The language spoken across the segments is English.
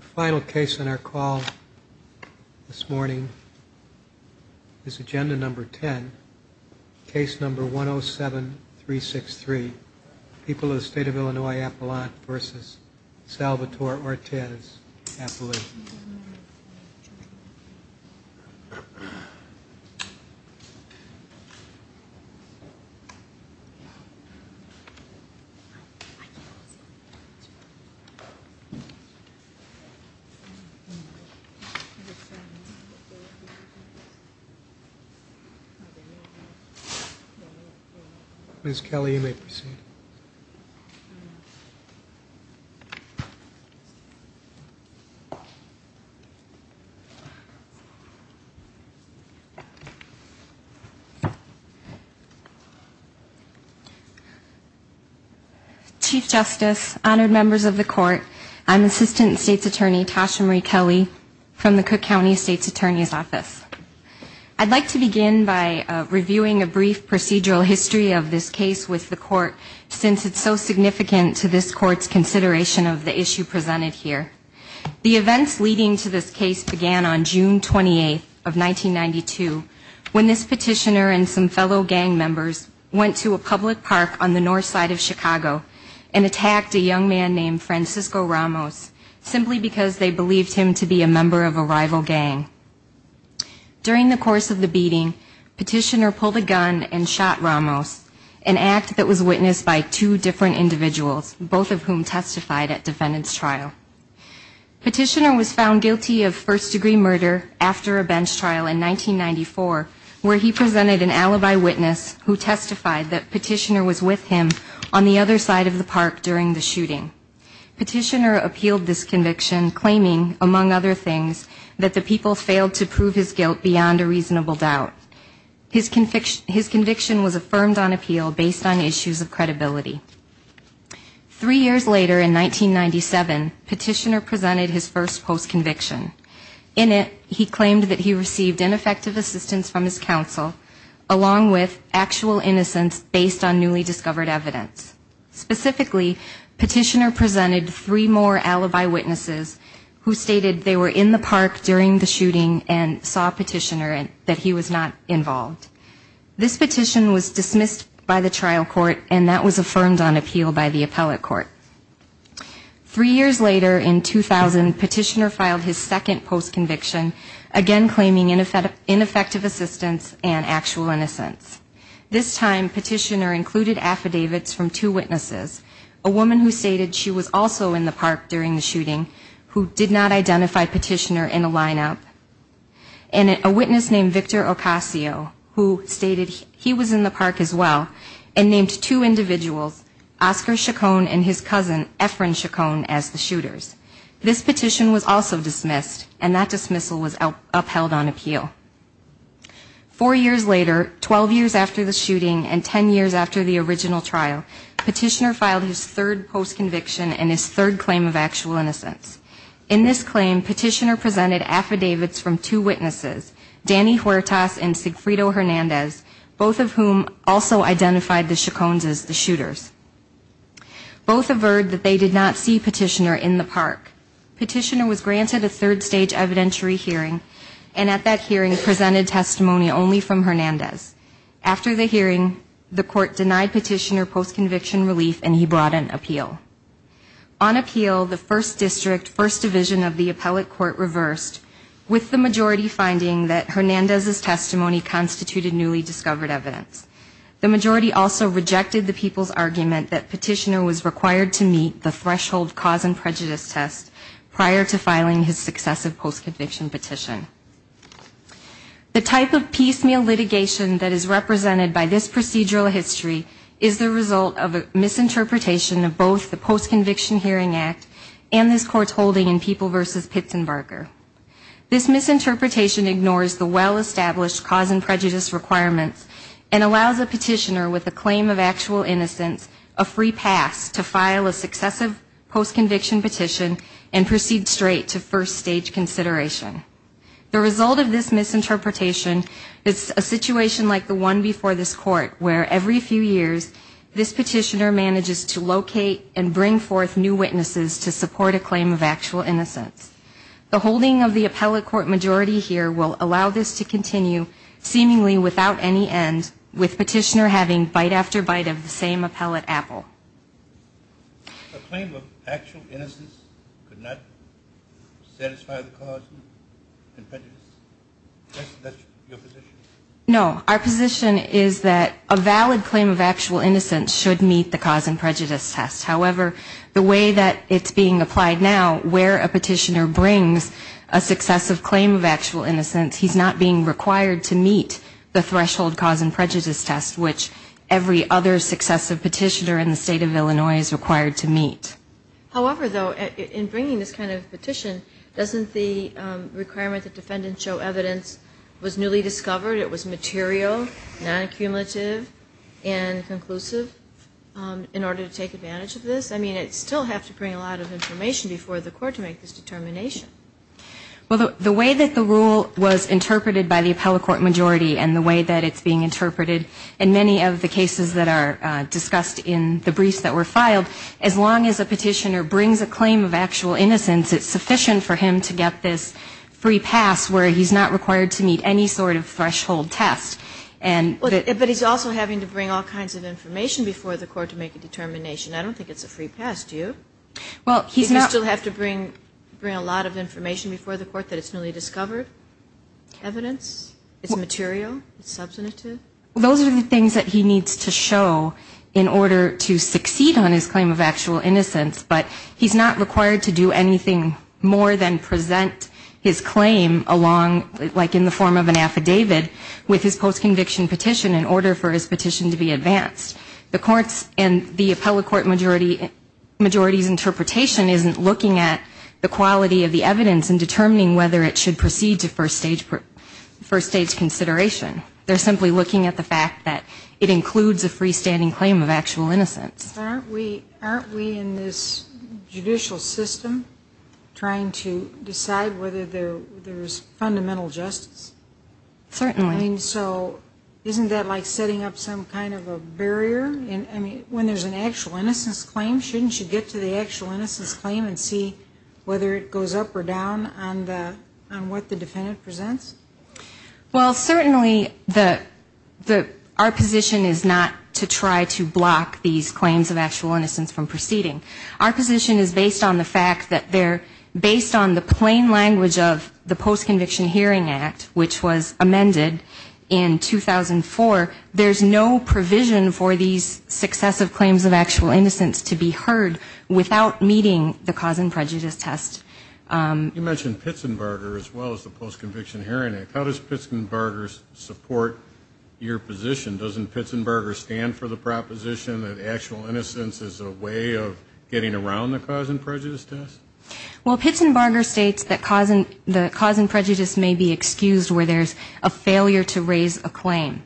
Final case on our call this morning is agenda number 10, case number 107363, people of the State of Illinois Appelant v. Salvatore Ortiz Appelant. Ms. Kelly, you may proceed. Chief Justice, honored members of the court, I'm Assistant State's Attorney Tasha Marie Kelly from the Cook County State's Attorney's Office. I'd like to begin by reviewing a brief procedural history of this case with the court since it's so significant to this court's consideration of the issue presented here. The events leading to this case began on June 28th of 1992 when this petitioner and some fellow gang members went to a public park on the north side of Chicago and attacked a young man named Francisco Ramos simply because they believed him to be a member of a rival gang. During the course of the beating, petitioner pulled a gun and shot Ramos, an act that was witnessed by two different individuals, both of whom testified at defendant's trial. Petitioner was found guilty of first-degree murder after a bench trial in 1994 where he presented an alibi witness who testified that petitioner was with him on the other side of the park during the shooting. Petitioner appealed this conviction claiming, among other things, that the people failed to prove his guilt beyond a reasonable doubt. His conviction was affirmed on appeal based on issues of credibility. Three years later, in 1997, petitioner presented his first post-conviction. In it, he claimed that he received ineffective assistance from his counsel, along with actual innocence based on newly discovered evidence. Specifically, petitioner presented three more alibi witnesses who stated they were in the park during the shooting and saw petitioner and that he was not involved. This petition was dismissed by the trial court and that was affirmed on appeal. Three years later, in 2000, petitioner filed his second post-conviction, again claiming ineffective assistance and actual innocence. This time, petitioner included affidavits from two witnesses, a woman who stated she was also in the park during the shooting, who did not identify petitioner in a line-up, and a witness named Victor Ocasio, who stated he was in the park as well, and named two individuals, including petitioner. Oscar Chacon and his cousin, Efren Chacon, as the shooters. This petition was also dismissed and that dismissal was upheld on appeal. Four years later, 12 years after the shooting and 10 years after the original trial, petitioner filed his third post-conviction and his third claim of actual innocence. In this claim, petitioner presented affidavits from two witnesses, Danny Huertas and Sigfrido Hernandez, both of whom also identified the Chacons as the shooters. Both averred that they did not see petitioner in the park. Petitioner was granted a third-stage evidentiary hearing, and at that hearing presented testimony only from Hernandez. After the hearing, the court denied petitioner post-conviction relief and he brought an appeal. On appeal, the first district, first division of the appellate court reversed, with the majority finding that Hernandez's testimony constituted newly discovered evidence. The majority also rejected the people's argument that Hernandez's testimony constituted newly discovered evidence. The majority also rejected the people's argument that petitioner was required to meet the threshold cause and prejudice test prior to filing his successive post-conviction petition. The type of piecemeal litigation that is represented by this procedural history is the result of a misinterpretation of both the Post-Conviction Hearing Act and this court's holding in People v. Pitzenbarger. This misinterpretation ignores the well-established cause and prejudice requirements and allows a petitioner with a claim of actual innocence of four years. The petitioner has a free pass to file a successive post-conviction petition and proceed straight to first-stage consideration. The result of this misinterpretation is a situation like the one before this court, where every few years this petitioner manages to locate and bring forth new witnesses to support a claim of actual innocence. The holding of the appellate court majority here will allow this to continue seemingly without any end, with petitioner having bite after bite of the same appellate apple. The claim of actual innocence could not satisfy the cause and prejudice test? Is that your position? No. Our position is that a valid claim of actual innocence should meet the cause and prejudice test. However, the way that it's being applied now, where a petitioner brings a successive claim of actual innocence, he's not being required to meet the threshold cause and prejudice test, which every other successive petitioner in the state of Illinois is required to meet. However, though, in bringing this kind of petition, doesn't the requirement that defendants show evidence was newly discovered, it was material, non-accumulative, and conclusive in order to take advantage of this? I mean, it'd still have to bring a lot of information before the court to make this determination. Well, the way that the rule was interpreted by the appellate court majority and the way that it's being interpreted in many of the cases that are discussed in the briefs that were filed, as long as a petitioner brings a claim of actual innocence, it's sufficient for him to get this free pass where he's not required to meet any sort of threshold test. But he's also having to bring all kinds of information before the court to make a determination. I don't think it's a free pass, do you? Well, he's not... Do you still have to bring a lot of information before the court that it's newly discovered, evidence, it's material, it's substantive? Those are the things that he needs to show in order to succeed on his claim of actual innocence, but he's not required to do anything more than present his claim along, like in the form of an affidavit, with his post-conviction petition in order for his petition to be advanced. The courts and the appellate court majority's interpretation isn't looking at the quality of the evidence and determining whether it should proceed to first stage consideration. They're simply looking at the fact that it includes a freestanding claim of actual innocence. Aren't we in this judicial system trying to decide whether there's fundamental justice? Certainly. I mean, so isn't that like setting up some kind of a barrier? I mean, when there's an actual innocence claim, shouldn't you get to the actual innocence claim and see whether it goes up or down on the, on what the defendant presents? Well, certainly the, our position is not to try to block these claims of actual innocence from proceeding. Our position is based on the fact that they're based on the plain language of the Post-Conviction Hearing Act, which states that the defendant's claim of actual innocence, which was amended in 2004, there's no provision for these successive claims of actual innocence to be heard without meeting the cause and prejudice test. You mentioned Pitzenbarger as well as the Post-Conviction Hearing Act. How does Pitzenbarger support your position? Doesn't Pitzenbarger stand for the proposition that actual innocence is a way of getting around the cause and prejudice test? Well, Pitzenbarger states that the cause and prejudice may be excused where there's a failure to raise a claim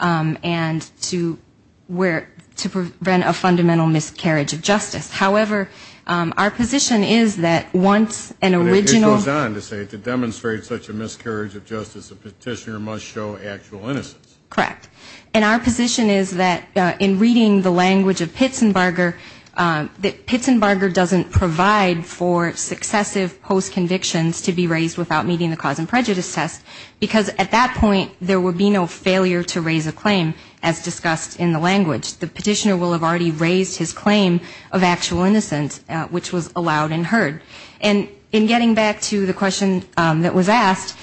and to where, to prevent a fundamental miscarriage of justice. However, our position is that once an original... It goes on to say, to demonstrate such a miscarriage of justice, a petitioner must show actual innocence. Correct. And our position is that in reading the language of Pitzenbarger, that Pitzenbarger doesn't provide for an actual innocence. He doesn't provide for successive post-convictions to be raised without meeting the cause and prejudice test, because at that point there would be no failure to raise a claim, as discussed in the language. The petitioner will have already raised his claim of actual innocence, which was allowed and heard. And in getting back to the question that was asked,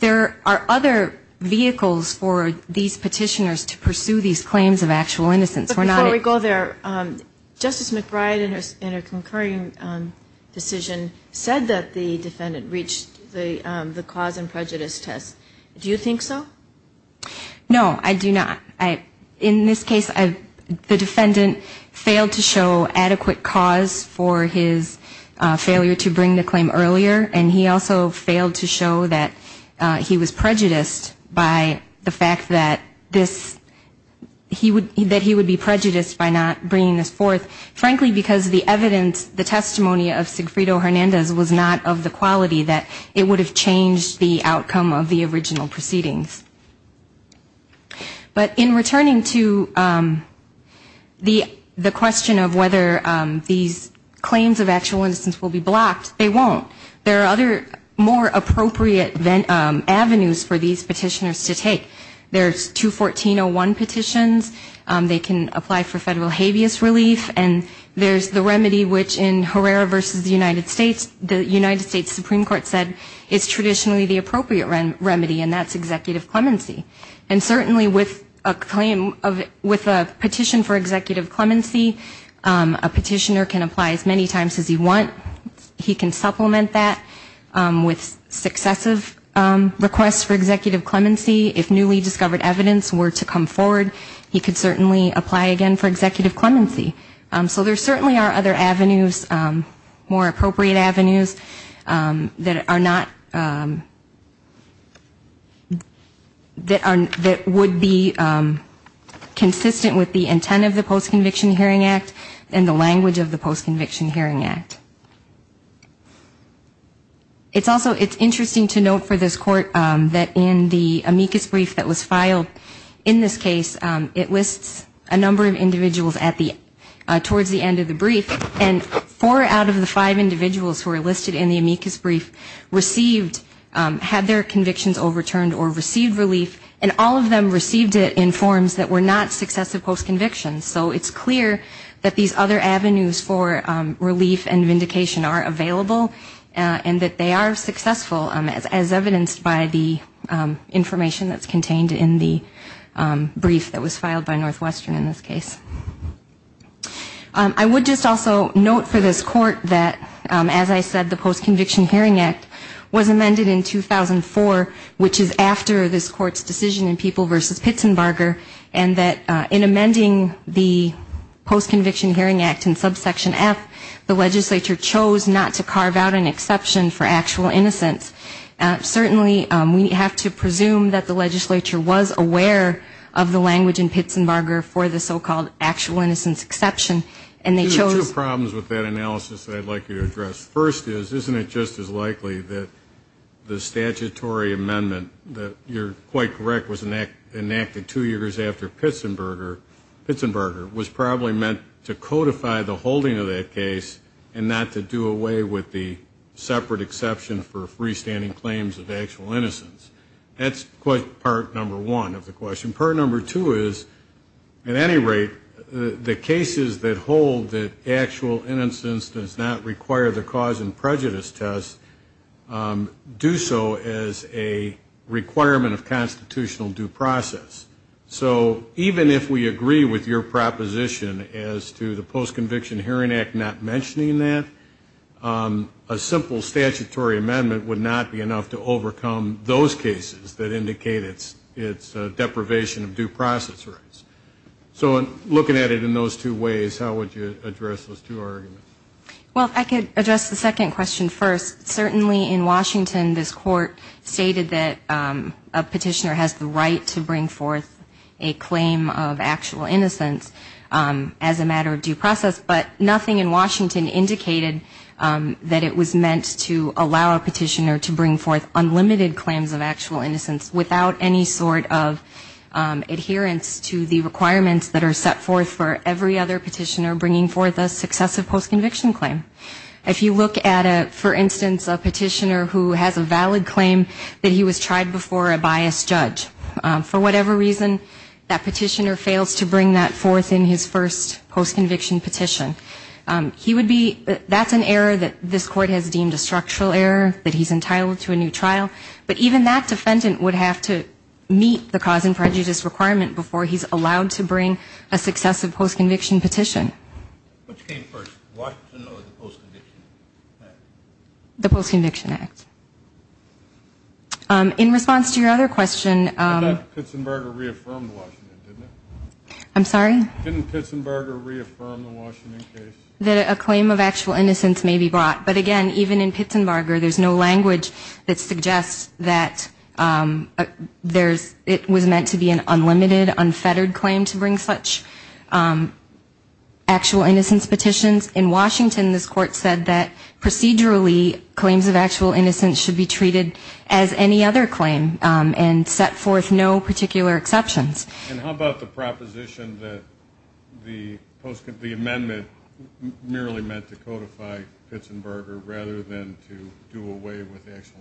there are other vehicles for these petitioners to pursue these claims of actual innocence. Before we go there, Justice McBride, in a concurring decision, said that the defendant reached the cause and prejudice test. Do you think so? No, I do not. In this case, the defendant failed to show adequate cause for his failure to bring the claim earlier, and he also failed to show that he was prejudiced by the fact that this... that he would be prejudiced by not bringing this forth, frankly because the evidence, the testimony of Sigfrido Hernandez was not of the quality that it would have changed the outcome of the original proceedings. But in returning to the question of whether these claims of actual innocence will be blocked, they won't. There are other, more appropriate avenues for these petitioners to take. There's 214-01 petitions. They can apply for federal habeas relief. And there's the remedy, which in Herrera v. United States, the United States Supreme Court said is traditionally the appropriate remedy, and that's executive clemency. And certainly with a claim of, with a petition for executive clemency, a petitioner can apply as many times as he wants. He can supplement that with successive requests for executive clemency. If newly discovered evidence were to come forward, he could certainly apply again for executive clemency. So there certainly are other avenues, more appropriate avenues, that are not, that would be consistent with the intent of the Post-Conviction Hearing Act and the language of the Post-Conviction Hearing Act. It's also, it's interesting to note for this court that in the amicus brief that was filed in this case, it lists a number of individuals at the, towards the end of the brief. And four out of the five individuals who are listed in the amicus brief received, had their convictions overturned or received relief, and all of them received it in forms that were not successive post-convictions. So it's clear that these other avenues for relief and vindication are not consistent with the intent of the Post-Conviction Hearing Act. It's clear that these other avenues for relief and vindication are available, and that they are successful, as evidenced by the information that's contained in the brief that was filed by Northwestern in this case. I would just also note for this court that, as I said, the Post-Conviction Hearing Act was amended in 2004, which is after this court's decision in People v. Pitzenbarger, and that in amending the Post-Conviction Hearing Act in subsection F, the legislature could not amend the Post-Conviction Hearing Act in subsection B. The legislature chose not to carve out an exception for actual innocence. Certainly, we have to presume that the legislature was aware of the language in Pitzenbarger for the so-called actual innocence exception, and they chose to address. First is, isn't it just as likely that the statutory amendment that, you're quite correct, was enacted two years after Pitzenbarger, was probably meant to codify the holding of that case, and not to do away with the separate exception for freestanding claims of actual innocence? That's part number one of the question. Part number two is, at any rate, the cases that hold that actual innocence does not require the cause and prejudice test do so as a requirement of constitutional due process. So even if we agree with your proposition as to the Post-Conviction Hearing Act not mentioning that, a simple statutory amendment would not be enough to overcome those cases that indicate its deprivation of due process rights. So looking at it in those two ways, how would you address those two arguments? Well, if I could address the second question first. Certainly in Washington, this court stated that a petitioner has the right to bring forward an actual innocence as a matter of due process, but nothing in Washington indicated that it was meant to allow a petitioner to bring forth unlimited claims of actual innocence without any sort of adherence to the requirements that are set forth for every other petitioner bringing forth a successive post-conviction claim. If you look at, for instance, a petitioner who has a valid claim that he was tried before a biased judge, for whatever reason that petitioner fails to bring that forth in his first post-conviction petition, he would be, that's an error that this court has deemed a structural error, that he's entitled to a new trial, but even that defendant would have to meet the cause and prejudice requirement before he's allowed to bring a successive post-conviction petition. Which came first, Washington or the Post-Conviction Act? The Post-Conviction Act. In response to your other question, I'm sorry? Didn't Pitsenbarger reaffirm the Washington case? That a claim of actual innocence may be brought. But again, even in Pitsenbarger, there's no language that suggests that it was meant to be an actual innocence petition. In Washington, this court said that procedurally, claims of actual innocence should be treated as any other claim and set forth no particular exceptions. And how about the proposition that the amendment merely meant to codify Pitsenbarger rather than to do away with the actual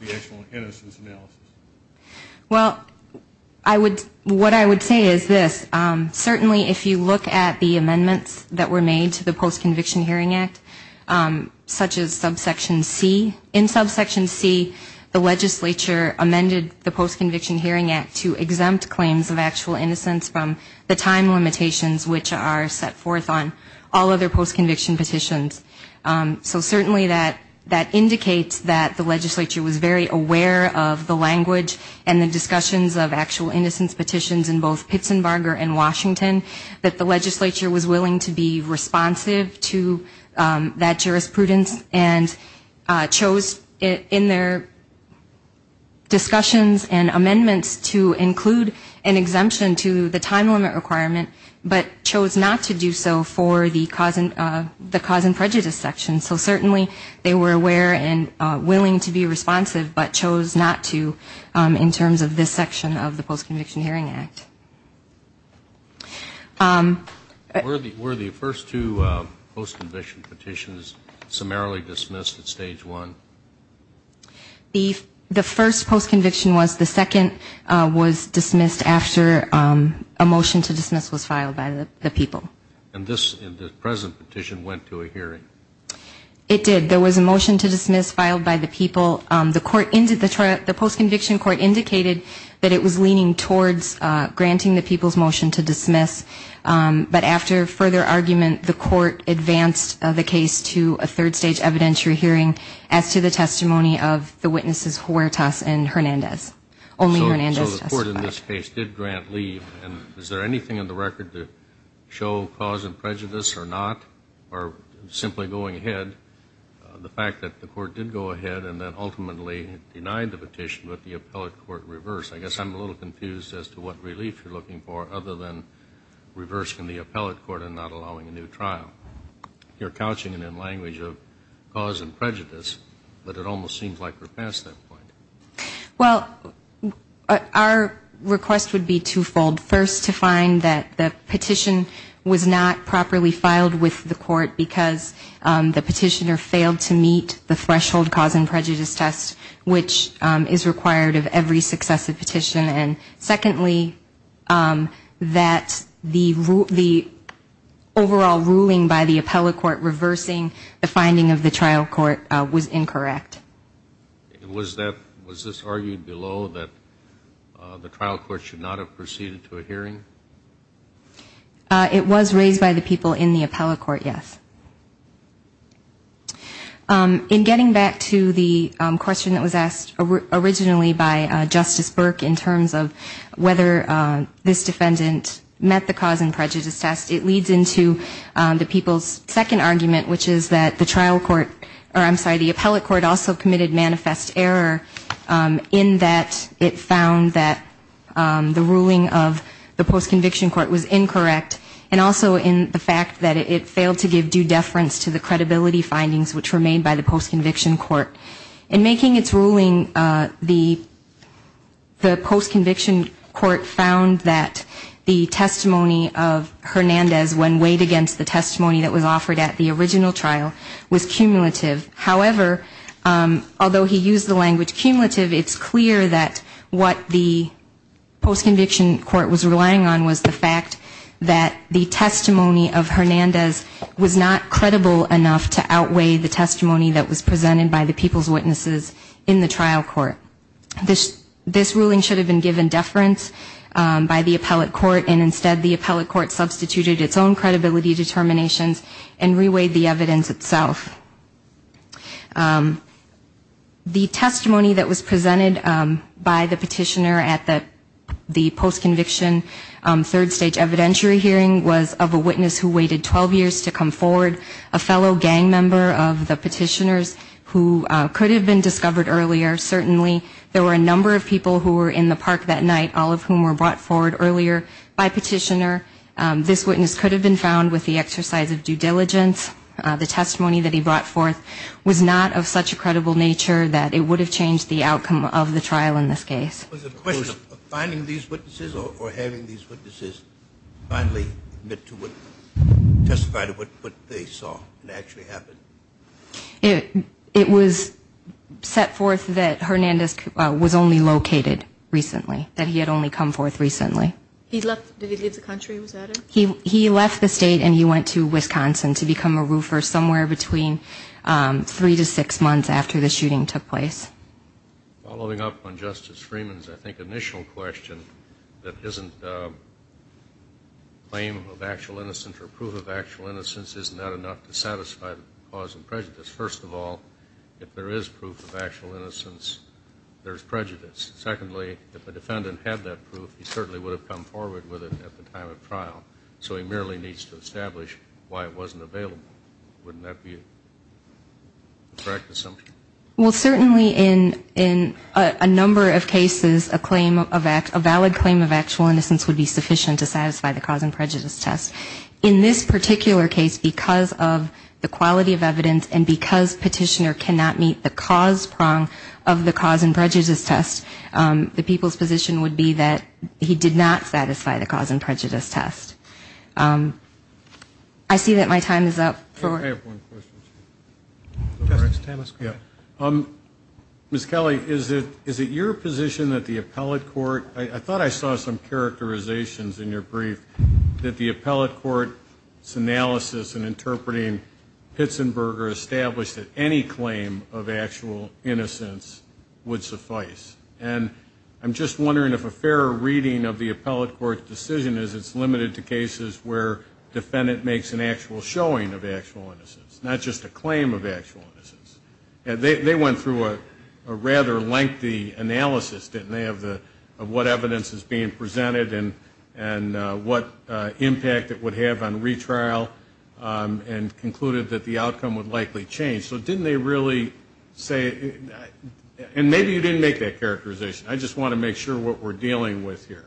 innocence analysis? Well, I would, what I would say is this. Certainly if you look at the amendments that were made to the Post-Conviction Hearing Act, such as subsection C, in subsection C, the legislature amended the Post-Conviction Hearing Act to exempt claims of actual innocence from the time limitations which are set forth on all other post-conviction petitions. So certainly that indicates that the legislature was very aware of the language and the discussions of actual innocence petitions in both Pitsenbarger and Washington, that the legislature was willing to be responsive to that jurisprudence and chose in their discussions and amendments to include an exemption to the time limit requirement, but chose not to do so for the cause and function of the case. And then there's the prejudice section. So certainly they were aware and willing to be responsive, but chose not to in terms of this section of the Post-Conviction Hearing Act. Were the first two post-conviction petitions summarily dismissed at stage one? The first post-conviction was, the second was dismissed after a motion to dismiss was filed by the people. And this, in the present petition, went to a hearing? It did. There was a motion to dismiss filed by the people. The post-conviction court indicated that it was leaning towards granting the people's motion to dismiss, but after further argument, the court advanced the case to a third stage evidentiary hearing as to the testimony of the witnesses Huertas and Hernandez. Only Hernandez testified. The court in this case did grant leave. And is there anything in the record to show cause and prejudice or not, or simply going ahead? The fact that the court did go ahead and then ultimately denied the petition, but the appellate court reversed. I guess I'm a little confused as to what relief you're looking for other than reversing the appellate court and not allowing a new trial. You're couching it in language of cause and prejudice, but it almost seems like we're past that point. Our request would be twofold. First, to find that the petition was not properly filed with the court because the petitioner failed to meet the threshold cause and prejudice test, which is required of every successive petition. And secondly, that the overall ruling by the appellate court reversing the finding of the trial court was incorrect. Was this argued below that the trial court should not have proceeded to a hearing? It was raised by the people in the appellate court, yes. In getting back to the question that was asked originally by Justice Burke in terms of whether this defendant met the cause and prejudice test, it leads into the people's second argument, which is that the trial court, or I'm sorry, the appellate court also met the cause and prejudice test and also committed manifest error in that it found that the ruling of the post-conviction court was incorrect and also in the fact that it failed to give due deference to the credibility findings which were made by the post-conviction court. In making its ruling, the post-conviction court found that the testimony of Hernandez, when weighed against the testimony that was presented by the people's witnesses in the trial court, although he used the language cumulative, it's clear that what the post-conviction court was relying on was the fact that the testimony of Hernandez was not credible enough to outweigh the testimony that was presented by the people's witnesses in the trial court. This ruling should have been given deference by the appellate court, and instead the appellate court substituted its own credibility determinations and reweighed the evidence itself. The testimony that was presented by the petitioner at the post-conviction third stage evidentiary hearing was of a witness who waited 12 years to come forward, a fellow gang member of the petitioners who could have been discovered earlier. Certainly there were a number of people who were in the park that night, all of whom were brought forward earlier by petitioner. This witness could have been found with the exercise of due diligence. The testimony that he brought forth was not of such a credible nature that it would have changed the outcome of the trial in this case. Was the question of finding these witnesses or having these witnesses finally admit to what, testify to what they saw and actually happen? It was set forth that Hernandez was only located recently, that he had only come forth recently. He left, did he leave the country, was that it? And he was released from a roofer somewhere between three to six months after the shooting took place. Following up on Justice Freeman's I think initial question, that isn't claim of actual innocence or proof of actual innocence, isn't that enough to satisfy the cause of prejudice? First of all, if there is proof of actual innocence, there's prejudice. Secondly, if the defendant had that proof, he certainly would have come forward with it at the time of trial. So he merely needs to establish why it wasn't available. Wouldn't that be a correct assumption? Well, certainly in a number of cases, a claim of, a valid claim of actual innocence would be sufficient to satisfy the cause and prejudice test. In this particular case, because of the quality of evidence and because Petitioner cannot meet the cause prong of the cause and prejudice test, the people's position would be that he did not satisfy the cause and prejudice test. I see that my time is up. I have one question. Justice Thomas, go ahead. Ms. Kelly, is it your position that the appellate court, I thought I saw some characterizations in your brief, that the appellate court's analysis in interpreting Pitsenberger established that any claim of actual innocence would suffice. And I'm just wondering if a fair reading of the appellate court's case is where defendant makes an actual showing of actual innocence, not just a claim of actual innocence. They went through a rather lengthy analysis, didn't they, of what evidence is being presented and what impact it would have on retrial and concluded that the outcome would likely change. So didn't they really say, and maybe you didn't make that characterization. I just want to make sure what we're dealing with here.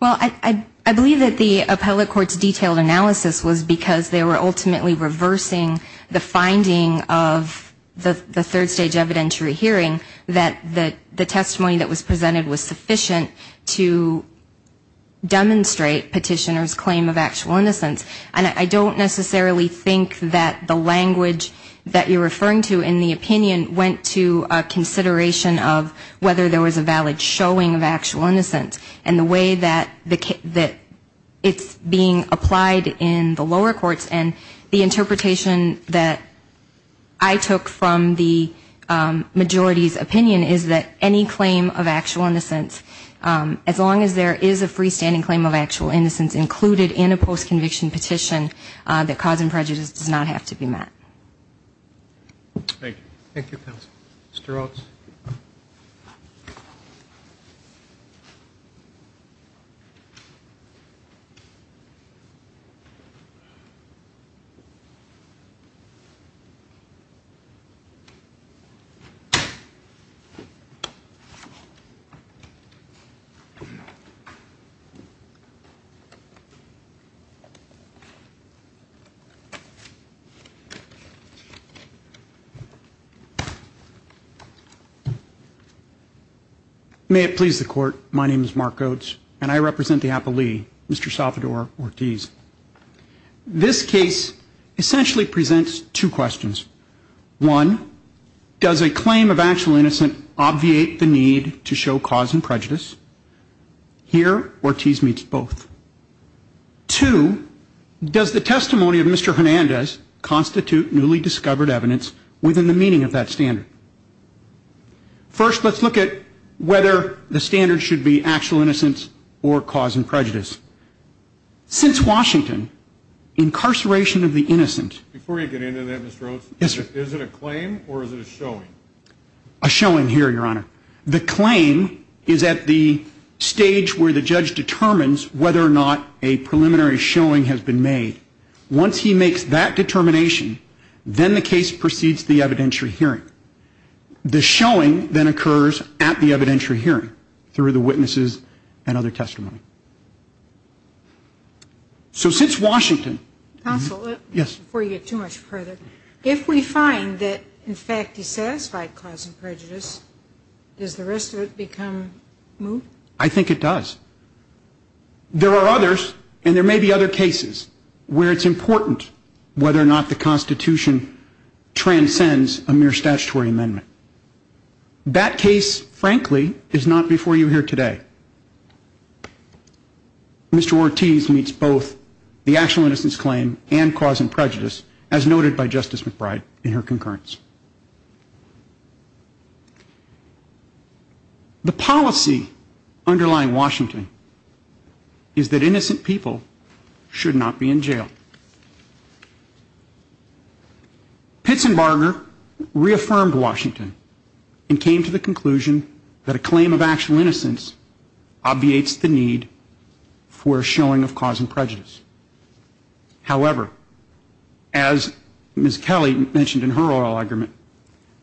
Well, I believe that the appellate court's detailed analysis was because they were ultimately reversing the finding of the third stage evidentiary hearing, that the testimony that was presented was sufficient to demonstrate Petitioner's claim of actual innocence. And I don't necessarily think that the language that you're referring to in the opinion went to a consideration of whether there was a valid charge. I think it was a showing of actual innocence. And the way that it's being applied in the lower courts and the interpretation that I took from the majority's opinion is that any claim of actual innocence, as long as there is a freestanding claim of actual innocence included in a post conviction petition, that cause and prejudice does not have to be met. Thank you. May it please the court. My name is Mark Oates and I represent the appellee, Mr. Salvador Ortiz. This case essentially presents two questions. One, does a claim of actual innocent obviate the need to show cause and prejudice? Here, Ortiz meets both. Two, does the testimony of Mr. Hernandez constitute an evidence of actual innocence? Three, does the testimony of Mr. Hernandez constitute an evidence of preliminary showing of a newly discovered evidence within the meaning of that standard? First, let's look at whether the standard should be actual innocence or cause and prejudice. Since Washington, incarceration of the innocent... Before you get into that, Mr. Oates, is it a claim or is it a showing? A showing here, Your Honor. The claim is at the stage where the judge determines whether or not a preliminary showing has been made. Once he makes that determination, then the case proceeds to the evidentiary hearing. The showing then occurs at the evidentiary hearing through the witnesses and other testimony. So since Washington... Counsel? ...has identified cause and prejudice, does the rest of it become moot? I think it does. There are others, and there may be other cases, where it's important whether or not the Constitution transcends a mere statutory amendment. That case, frankly, is not before you here today. Mr. Ortiz meets both the actual innocence claim and cause and prejudice claim. The policy underlying Washington is that innocent people should not be in jail. Pitsenbarger reaffirmed Washington and came to the conclusion that a claim of actual innocence obviates the need for a showing of cause and prejudice. However, as Ms. Kelly mentioned in her follow-up argument,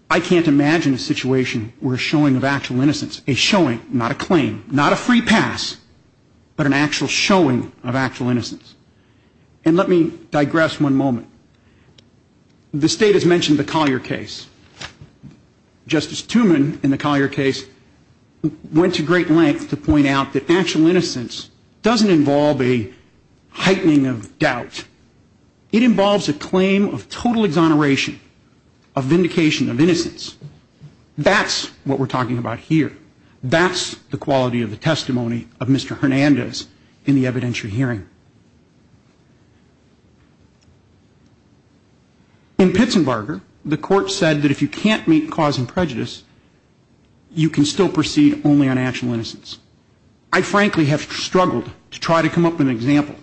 I can't imagine a situation where a showing of actual innocence, a showing, not a claim, not a free pass, but an actual showing of actual innocence. And let me digress one moment. The State has mentioned the Collier case. Justice Tumen, in the Collier case, went to great lengths to point out that actual innocence doesn't involve a heightening of doubt. It involves a claim of total exoneration, a vindication of innocence. That's what we're talking about here. That's the quality of the testimony of Mr. Hernandez in the evidentiary hearing. In Pitsenbarger, the Court said that if you can't meet cause and prejudice, you can still proceed only on actual innocence. I frankly have struggled to try to come up with an example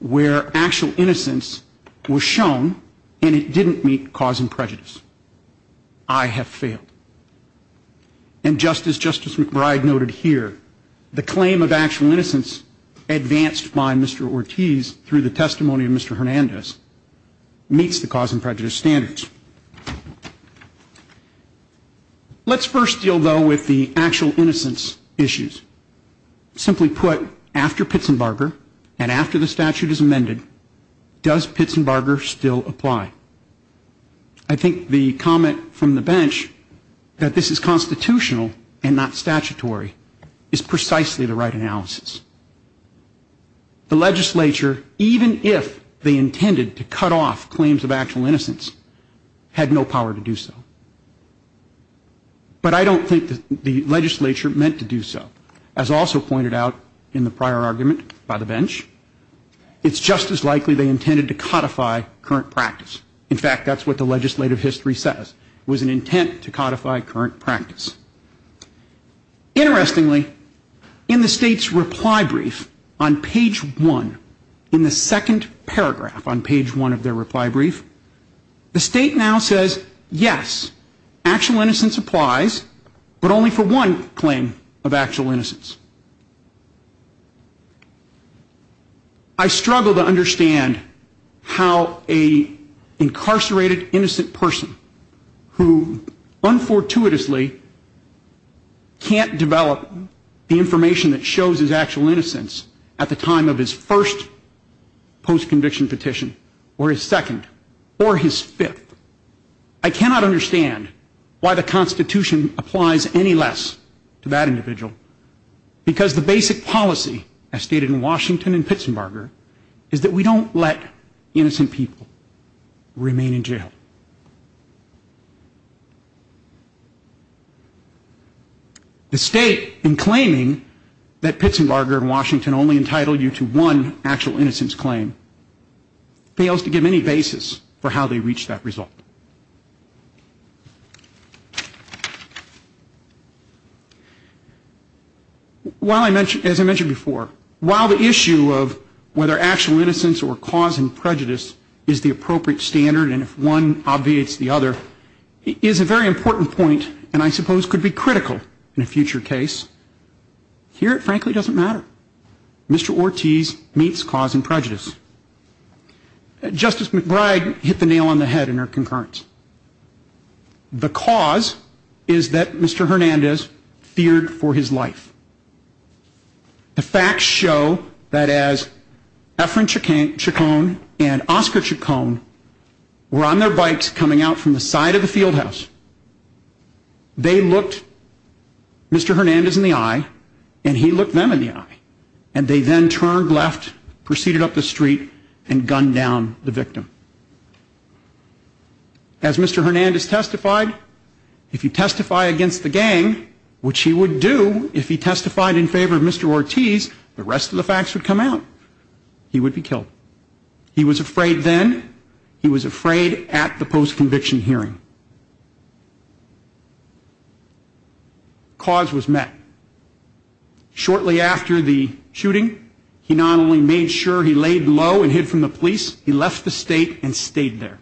where actual innocence was shown, and it didn't meet cause and prejudice. I have failed. And just as Justice McBride noted here, the claim of actual innocence, advanced by Mr. Ortiz through the testimony of Mr. Hernandez, meets the cause and prejudice standards. Let's first deal, though, with the actual innocence issues. Simply put, after Pitsenbarger and after the statute is amended, does the legislature intend to cut off claims of actual innocence? I think the comment from the bench, that this is constitutional and not statutory, is precisely the right analysis. The legislature, even if they intended to cut off claims of actual innocence, had no power to do so. But I don't think the legislature meant to do so. As also pointed out in the prior argument by the bench, it's just as likely they didn't. That's what the legislative history says. It was an intent to codify current practice. Interestingly, in the State's reply brief on page one, in the second paragraph on page one of their reply brief, the State now says, yes, actual innocence applies, but only for one claim of actual innocence. I struggle to understand how an incarcerated person can not develop the information that shows his actual innocence at the time of his first post-conviction petition, or his second, or his fifth. I cannot understand why the Constitution applies any less to that individual, because the basic policy, as stated in Washington and Pittsburgh, is that the State, in claiming that Pittsburgh and Washington only entitle you to one actual innocence claim, fails to give any basis for how they reach that result. While I mentioned, as I mentioned before, while the issue of whether actual innocence or cause and prejudice is the appropriate standard, and if one obviates the other, is a very important point, and I suppose could be critical in a future case, here it frankly doesn't matter. Mr. Ortiz meets cause and prejudice. Justice McBride hit the nail on the head in her concurrence. The cause is that Mr. Hernandez feared for his life. The facts show that as Efren Chacon and Oscar Chacon were on their bikes coming out from the side of the field house, they looked Mr. Hernandez in the eye, and he looked them in the eye, and they then turned left, proceeded up the street, and gunned down the victim. As Mr. Hernandez testified, if he testified against the gang, which he would do if he testified in favor of Mr. Ortiz, the rest of the facts would come out. He would be killed. He was afraid then, he was afraid at the post-conviction hearing. Cause was met. Shortly after the shooting, he not only made sure he laid low and hid from the police, he left the state and stayed there.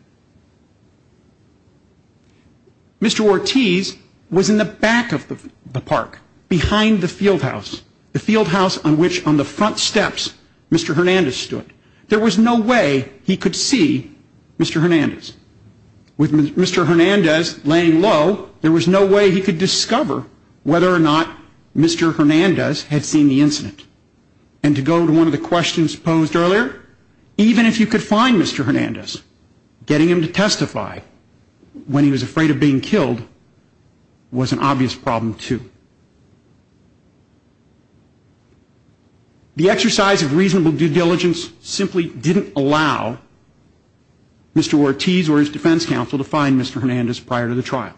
Mr. Ortiz was in the back of the park, behind the field house, the field house on which, on the front steps, Mr. Hernandez stood. There was no way he could see Mr. Hernandez. With Mr. Hernandez laying low, there was no way he could discover whether or not Mr. Hernandez had seen the incident. And to go to one of the questions posed earlier, even if you could find Mr. Hernandez, getting him to testify when he was afraid of being killed was an obvious problem, too. The exercise of reasonable due diligence simply didn't allow Mr. Ortiz or his defense counsel to find Mr. Hernandez prior to the trial.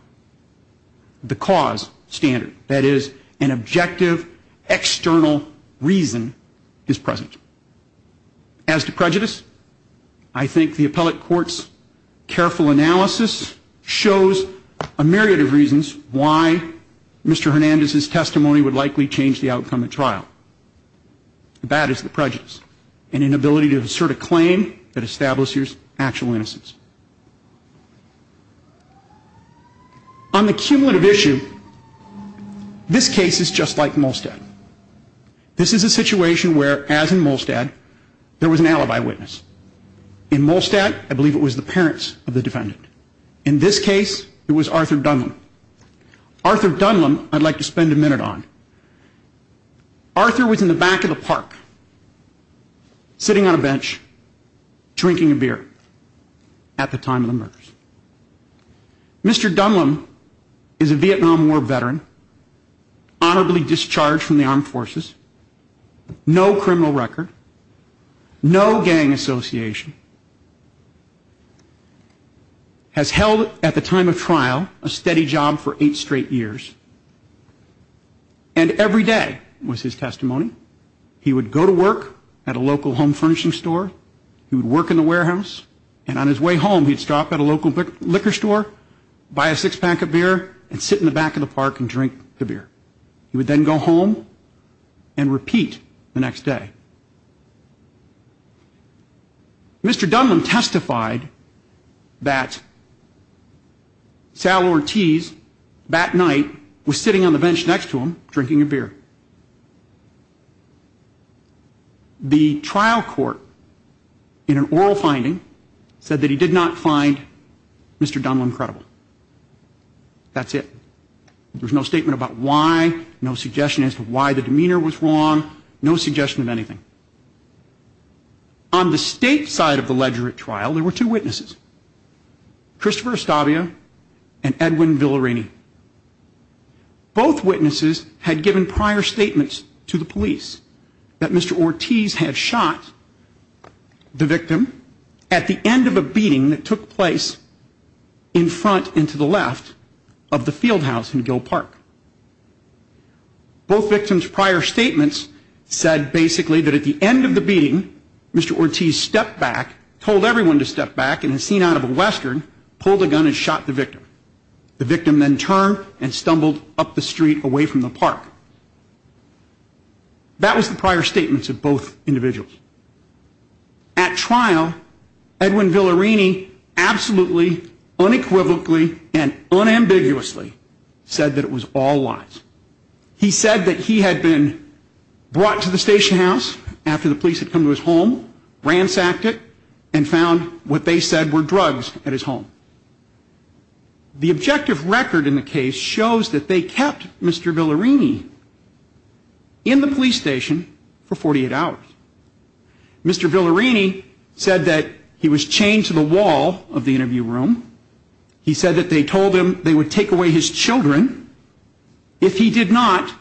The cause standard, that is, an objective, external reason, is present. As to prejudice, I think the appellate court's careful analysis shows a myriad of reasons why Mr. Hernandez's testimony would likely change the outcome of trial. The bad is the prejudice, an inability to assert a claim that establishes actual innocence. On the cumulative issue, this case is just like Molstad. This is a situation where, as in Molstad, there was an alibi witness. In this case, it was Arthur Dunlum. Arthur Dunlum, I'd like to spend a minute on. Arthur was in the back of the park, sitting on a bench, drinking a beer at the time of the murders. Mr. Dunlum is a Vietnam War veteran, honorably discharged from the armed forces, no criminal record, no gang association. Mr. Dunlum is a Vietnam War veteran, honorably discharged from the armed forces, no criminal record, no gang association, has held at the time of trial a steady job for eight straight years. And every day was his testimony. He would go to work at a local home furnishing store. He would work in the warehouse. And on his way home, he'd stop at a local liquor store, buy a six-pack of beer, and sit in the back of the park and drink the beer. He would then go home and repeat the next day. Mr. Dunlum testified that Sal Ortiz, that night, was sitting on the bench next to him, drinking a beer. The trial court, in an oral finding, said that he did not find Mr. Dunlum credible. That's it. There's no statement about why, no suggestion as to why the trial was not successful. On the state side of the ledger at trial, there were two witnesses, Christopher Estavia and Edwin Villarini. Both witnesses had given prior statements to the police that Mr. Ortiz had shot the victim at the end of a beating that took place in front and to the left of the field house in Gill Park. Both victims' prior statements said basically that it was a lie, that at the end of the beating, Mr. Ortiz stepped back, told everyone to step back, and as seen out of a western, pulled a gun and shot the victim. The victim then turned and stumbled up the street away from the park. That was the prior statements of both individuals. At trial, Edwin Villarini absolutely, unequivocally, and unambiguously said that it was all lies. He said that he had been brought to the station house after the police had come to his home, ransacked it, and found what they said were drugs at his home. The objective record in the case shows that they kept Mr. Villarini in the police station for 48 hours. Mr. Villarini said that he was chained to the wall of the interview room. He said that they told him they would take away his children if he did not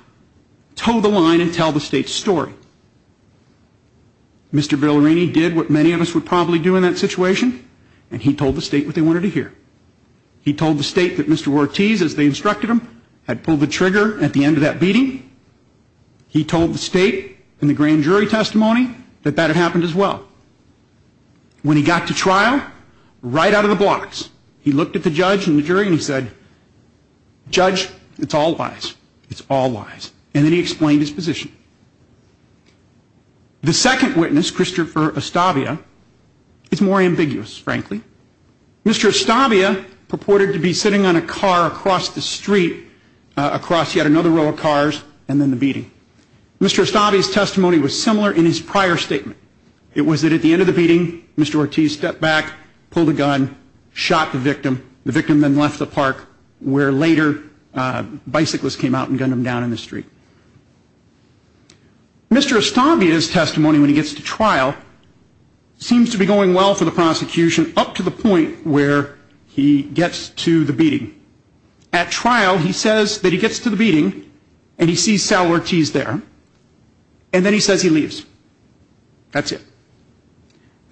tell the line and tell the state's story. Mr. Villarini did what many of us would probably do in that situation, and he told the state what they wanted to hear. He told the state that Mr. Ortiz, as they instructed him, had pulled the trigger at the end of that beating. He told the state in the grand jury testimony that that had happened as well. When he got to trial, right out of the blocks, he looked at the judge and the witness, and then he explained his position. The second witness, Christopher Ostavia, is more ambiguous, frankly. Mr. Ostavia purported to be sitting on a car across the street, across yet another row of cars, and then the beating. Mr. Ostavia's testimony was similar in his prior statement. It was that at the end of the beating, Mr. Ortiz stepped back, pulled a gun, shot the victim.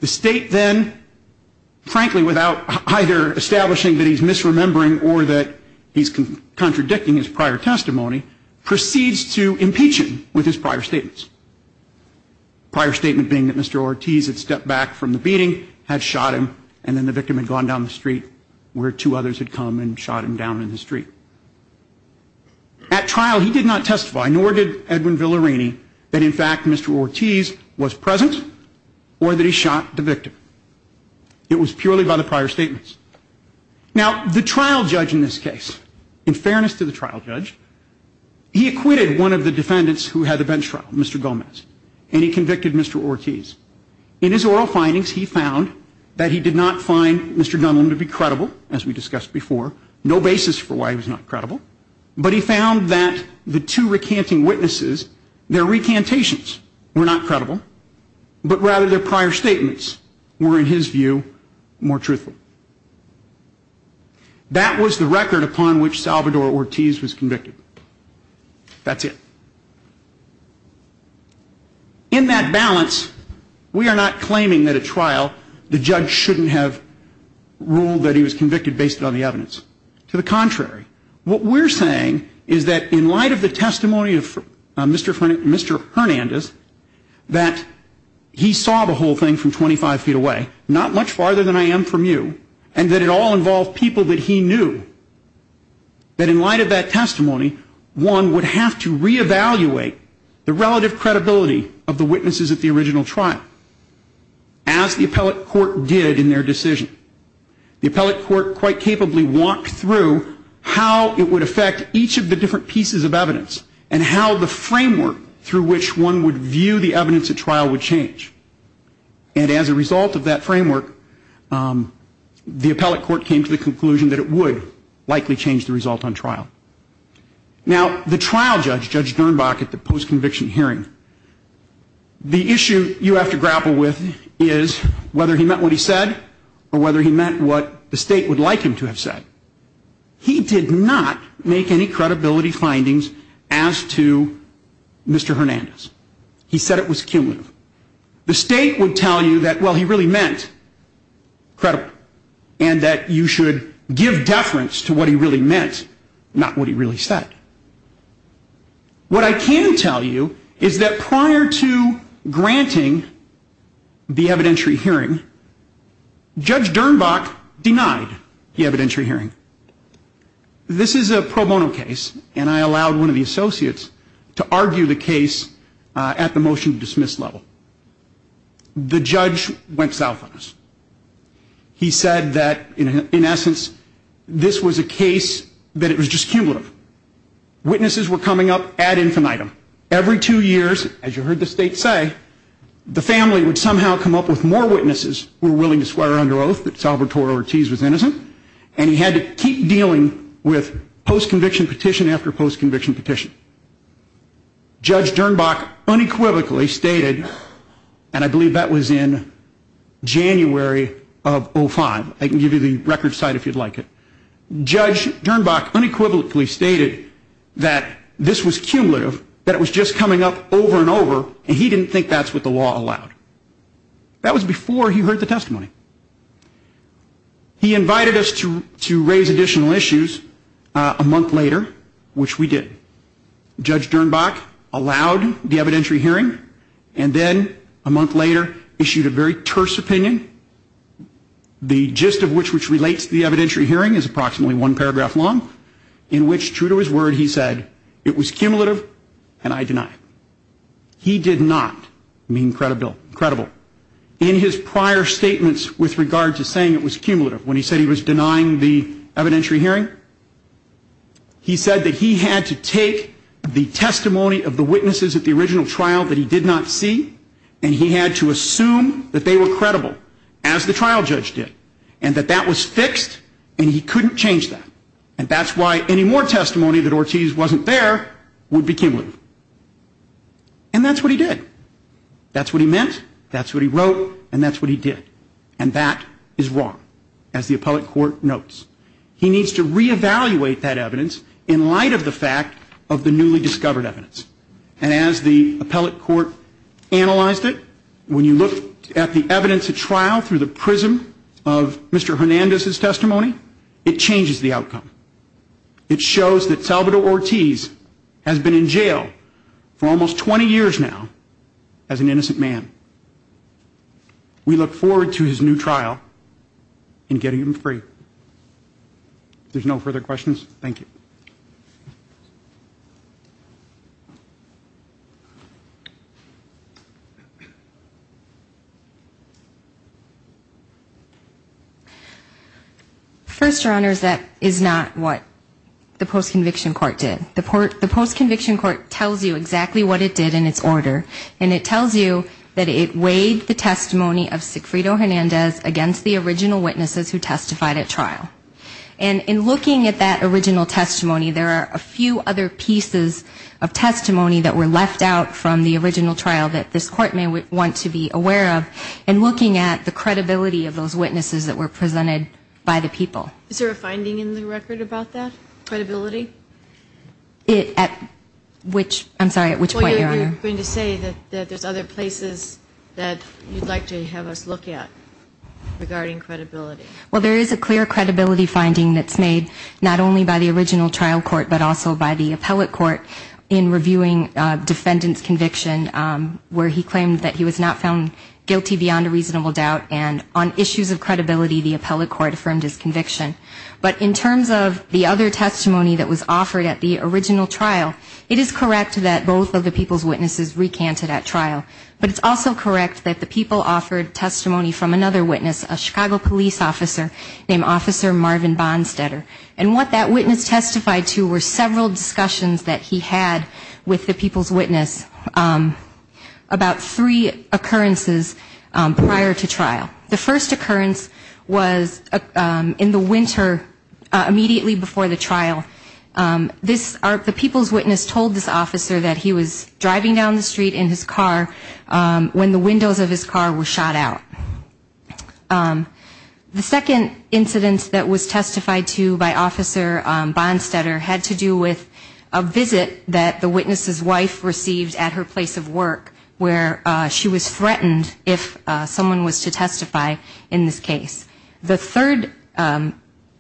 The state then, frankly, without either establishing that he's misremembering or that he's contradicting his prior testimony, proceeds to impeach him with his prior statements. Prior statement being that Mr. Ortiz had stepped back from the beating, had shot him, and then the victim had gone down the street where two others had come and shot him down in the street. At trial, he did not testify, nor did Edwin Villarini, that in fact Mr. Ortiz was present or that he shot the victim. It was purely by the prior statements. Now, the trial judge in this case, Edwin Villarini, was one of the defendants who had the bench trial, Mr. Gomez, and he convicted Mr. Ortiz. In his oral findings, he found that he did not find Mr. Dunlap to be credible, as we discussed before, no basis for why he was not credible, but he found that the two recanting witnesses, their recantations were not credible, but rather their prior statements were, in his view, more truthful. That was the record upon which Salvador Ortiz was convicted. That's it. In that balance, we are not claiming that at trial, the judge shouldn't have ruled that he was convicted based on the evidence. To the contrary, what we're saying is that in light of the testimony of Mr. Hernandez, that he saw the whole thing from 25 feet away, not much farther than I am from you, and that it all involved people that he knew that in light of that testimony, one would have to reevaluate the relative credibility of the witnesses at the original trial, as the appellate court did in their decision. The appellate court quite capably walked through how it would affect each of the different pieces of evidence, and how the framework through which one would view the evidence at trial would change. And as a result of that framework, the appellate court likely changed the result on trial. Now, the trial judge, Judge Dernbach, at the post-conviction hearing, the issue you have to grapple with is whether he meant what he said, or whether he meant what the state would like him to have said. He did not make any credibility findings as to Mr. Hernandez. He said it was cumulative. The state would tell you that, well, he really meant credible, and that you should give deference to what he really meant, not what he really said. What I can tell you is that prior to granting the evidentiary hearing, Judge Dernbach denied the evidentiary hearing. This is a pro bono case, and I allowed one of the associates to argue the case at the hearing, but in essence, this was a case that it was just cumulative. Witnesses were coming up ad infinitum. Every two years, as you heard the state say, the family would somehow come up with more witnesses who were willing to swear under oath that Salvatore Ortiz was innocent, and he had to keep dealing with post-conviction petition after post-conviction petition. Judge Dernbach unequivocally stated, and I believe that was in January of 2005, I can give you the record site if you'd like it, Judge Dernbach unequivocally stated that this was cumulative, that it was just coming up over and over, and he didn't think that's what the law allowed. That was before he heard the testimony. He invited us to raise additional issues a month later, which we did. Judge Dernbach allowed the evidentiary hearing, and then a month later issued a very terse opinion, the gist of which relates to the evidentiary hearing is approximately one paragraph long, in which, true to his word, he said, it was cumulative, and I deny it. He did not mean credible. In his prior statements with regard to saying it was cumulative, when he said he was denying the evidentiary hearing, he said that he had to take the testimony of the witnesses at the original trial that he did not see, and he had to assume that they were credible, as the trial judge did, and that that was fixed, and he couldn't change that. And that's why any more testimony that Ortiz wasn't there would be cumulative. And that's what he did. That's what he meant, that's what he wrote, and that's what he did. And that is wrong, as the appellate court notes. He needs to reevaluate that evidence in light of the fact of the newly discovered evidence. And as the appellate court analyzed it, when you look at the evidence at trial through the prism of Mr. Hernandez's testimony, it changes the outcome. It shows that Salvador Ortiz has been in jail for almost 20 years now as an innocent man. We look forward to his new trial in getting him free. If there's no further questions, thank you. First, Your Honors, that is not what the post-conviction court did. The post-conviction court tells you exactly what it did in its order, and it tells you that it weighed the testimony of Sigfrido Hernandez against the original witnesses who testified at trial. And in looking at that original testimony, there are a few other pieces of testimony that were left out from the original trial that this Court may want to be aware of, and looking at the credibility of those witnesses that were presented by the people. Is there a finding in the record about that, credibility? At which, I'm sorry, at which point, Your Honor? Well, you're going to say that there's other places that you'd like to have us look at regarding credibility. Well, there is a clear credibility finding that's made not only by the original trial court, but also by the appellate court in reviewing defendant's conviction, where he claimed that he was not found guilty beyond a reasonable doubt, and on issues of credibility, the appellate court affirmed his conviction. But in terms of the other testimony that was offered at the original trial, it is correct that both of the people's witnesses recanted at trial. But it's also correct that the people offered testimony from another witness, a Chicago police officer, named Officer Marvin Bonstetter. And what that witness testified to were several discussions that he had with the people's witness about three occurrences prior to trial. The first occurrence was in the winter, immediately before the trial. The people's witness told this officer that he was driving down the street in his car when the windows of his car were shot out. The second incident that was testified to by Officer Bonstetter had to do with a visit that the witness's wife received at her place of work, where she was threatened if someone was to testify in this case. The third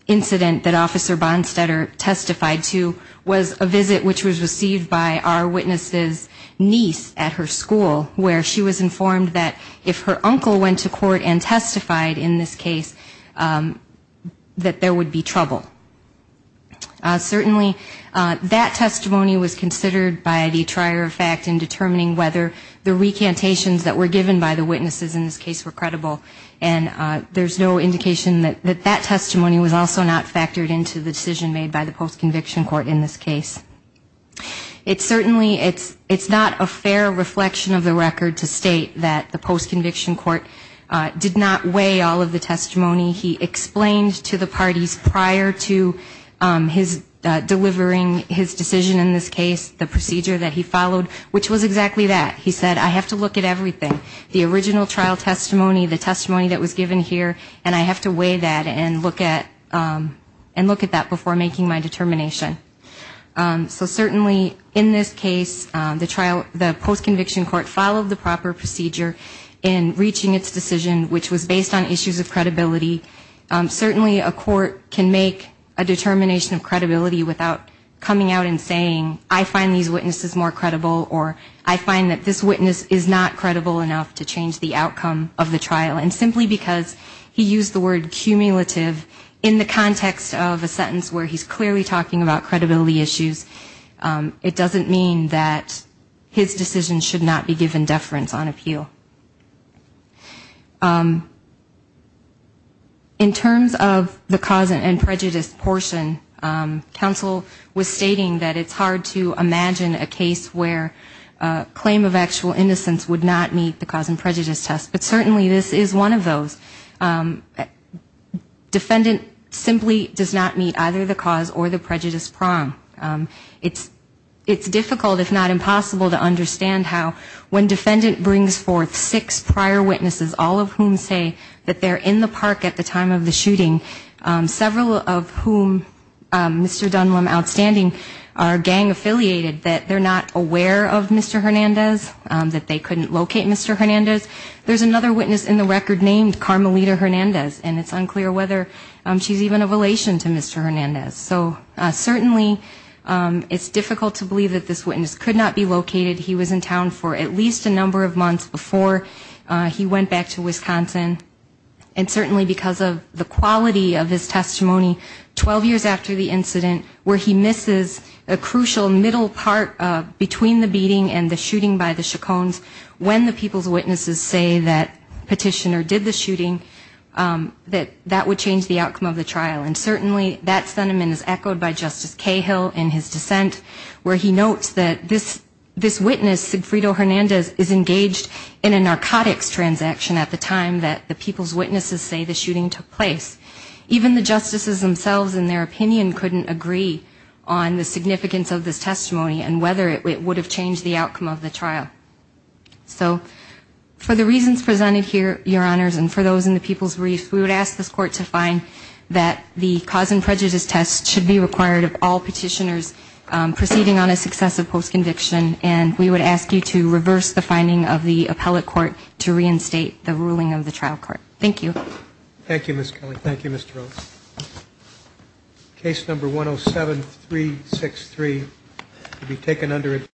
incident that Officer Bonstetter testified to was a visit which was received by our witness's niece at her school, where she was informed that if her uncle went to court and testified in this case, that there would be trouble. Certainly that testimony was considered by the trier of fact in determining whether the recantations that were given by the witnesses in this case were credible. And there's no indication that that testimony was also not factored into the decision made by the post-conviction court in this case. I can state that the post-conviction court did not weigh all of the testimony he explained to the parties prior to his delivering his decision in this case, the procedure that he followed, which was exactly that. He said, I have to look at everything. The original trial testimony, the testimony that was given here, and I have to weigh that and look at that before making my determination. So certainly in this case, the trial, the post-conviction court followed the proper procedure in reaching its decision, which was based on issues of credibility. Certainly a court can make a determination of credibility without coming out and saying, I find these witnesses more credible, or I find that this witness is not credible enough to change the outcome of the trial. And simply because he used the word cumulative in the context of a sentence where he's clearly talking about the outcome of the trial, and he's not talking about credibility issues, it doesn't mean that his decision should not be given deference on appeal. In terms of the cause and prejudice portion, counsel was stating that it's hard to imagine a case where a claim of actual innocence would not meet the cause and prejudice test, but certainly this is one of those. Defendant simply does not meet either the cause or the prejudice prong. It's difficult, if not impossible, to understand how when defendant brings forth six prior witnesses, all of whom say that they're in the park at the time of the shooting, several of whom, Mr. Dunlap Outstanding, are gang affiliated, that they're not aware of Mr. Hernandez, that they couldn't locate Mr. Hernandez. There's another witness in the record named Carmelita Hernandez, and it's unclear whether she's even a relation to Mr. Hernandez. So certainly it's difficult to believe that this witness could not be located. He was in town for at least a number of months before he went back to Wisconsin. And certainly because of the quality of his testimony, 12 years after the incident, where he misses a crucial middle part between the beating and the shooting by the Chacons, when the people's witnesses say that they did the shooting, that that would change the outcome of the trial. And certainly that sentiment is echoed by Justice Cahill in his dissent, where he notes that this witness, Sigfrido Hernandez, is engaged in a narcotics transaction at the time that the people's witnesses say the shooting took place. Even the justices themselves, in their opinion, couldn't agree on the significance of this testimony and whether it would have changed the outcome of the trial. So for the reasons presented here, Your Honors, and for those in the people's brief, we would ask this Court to find that the cause and prejudice test should be required of all petitioners proceeding on a successive post-conviction, and we would ask you to reverse the finding of the appellate court to reinstate the ruling of the trial court. Thank you. Thank you, Ms. Kelly. Thank you, Mr. Rose.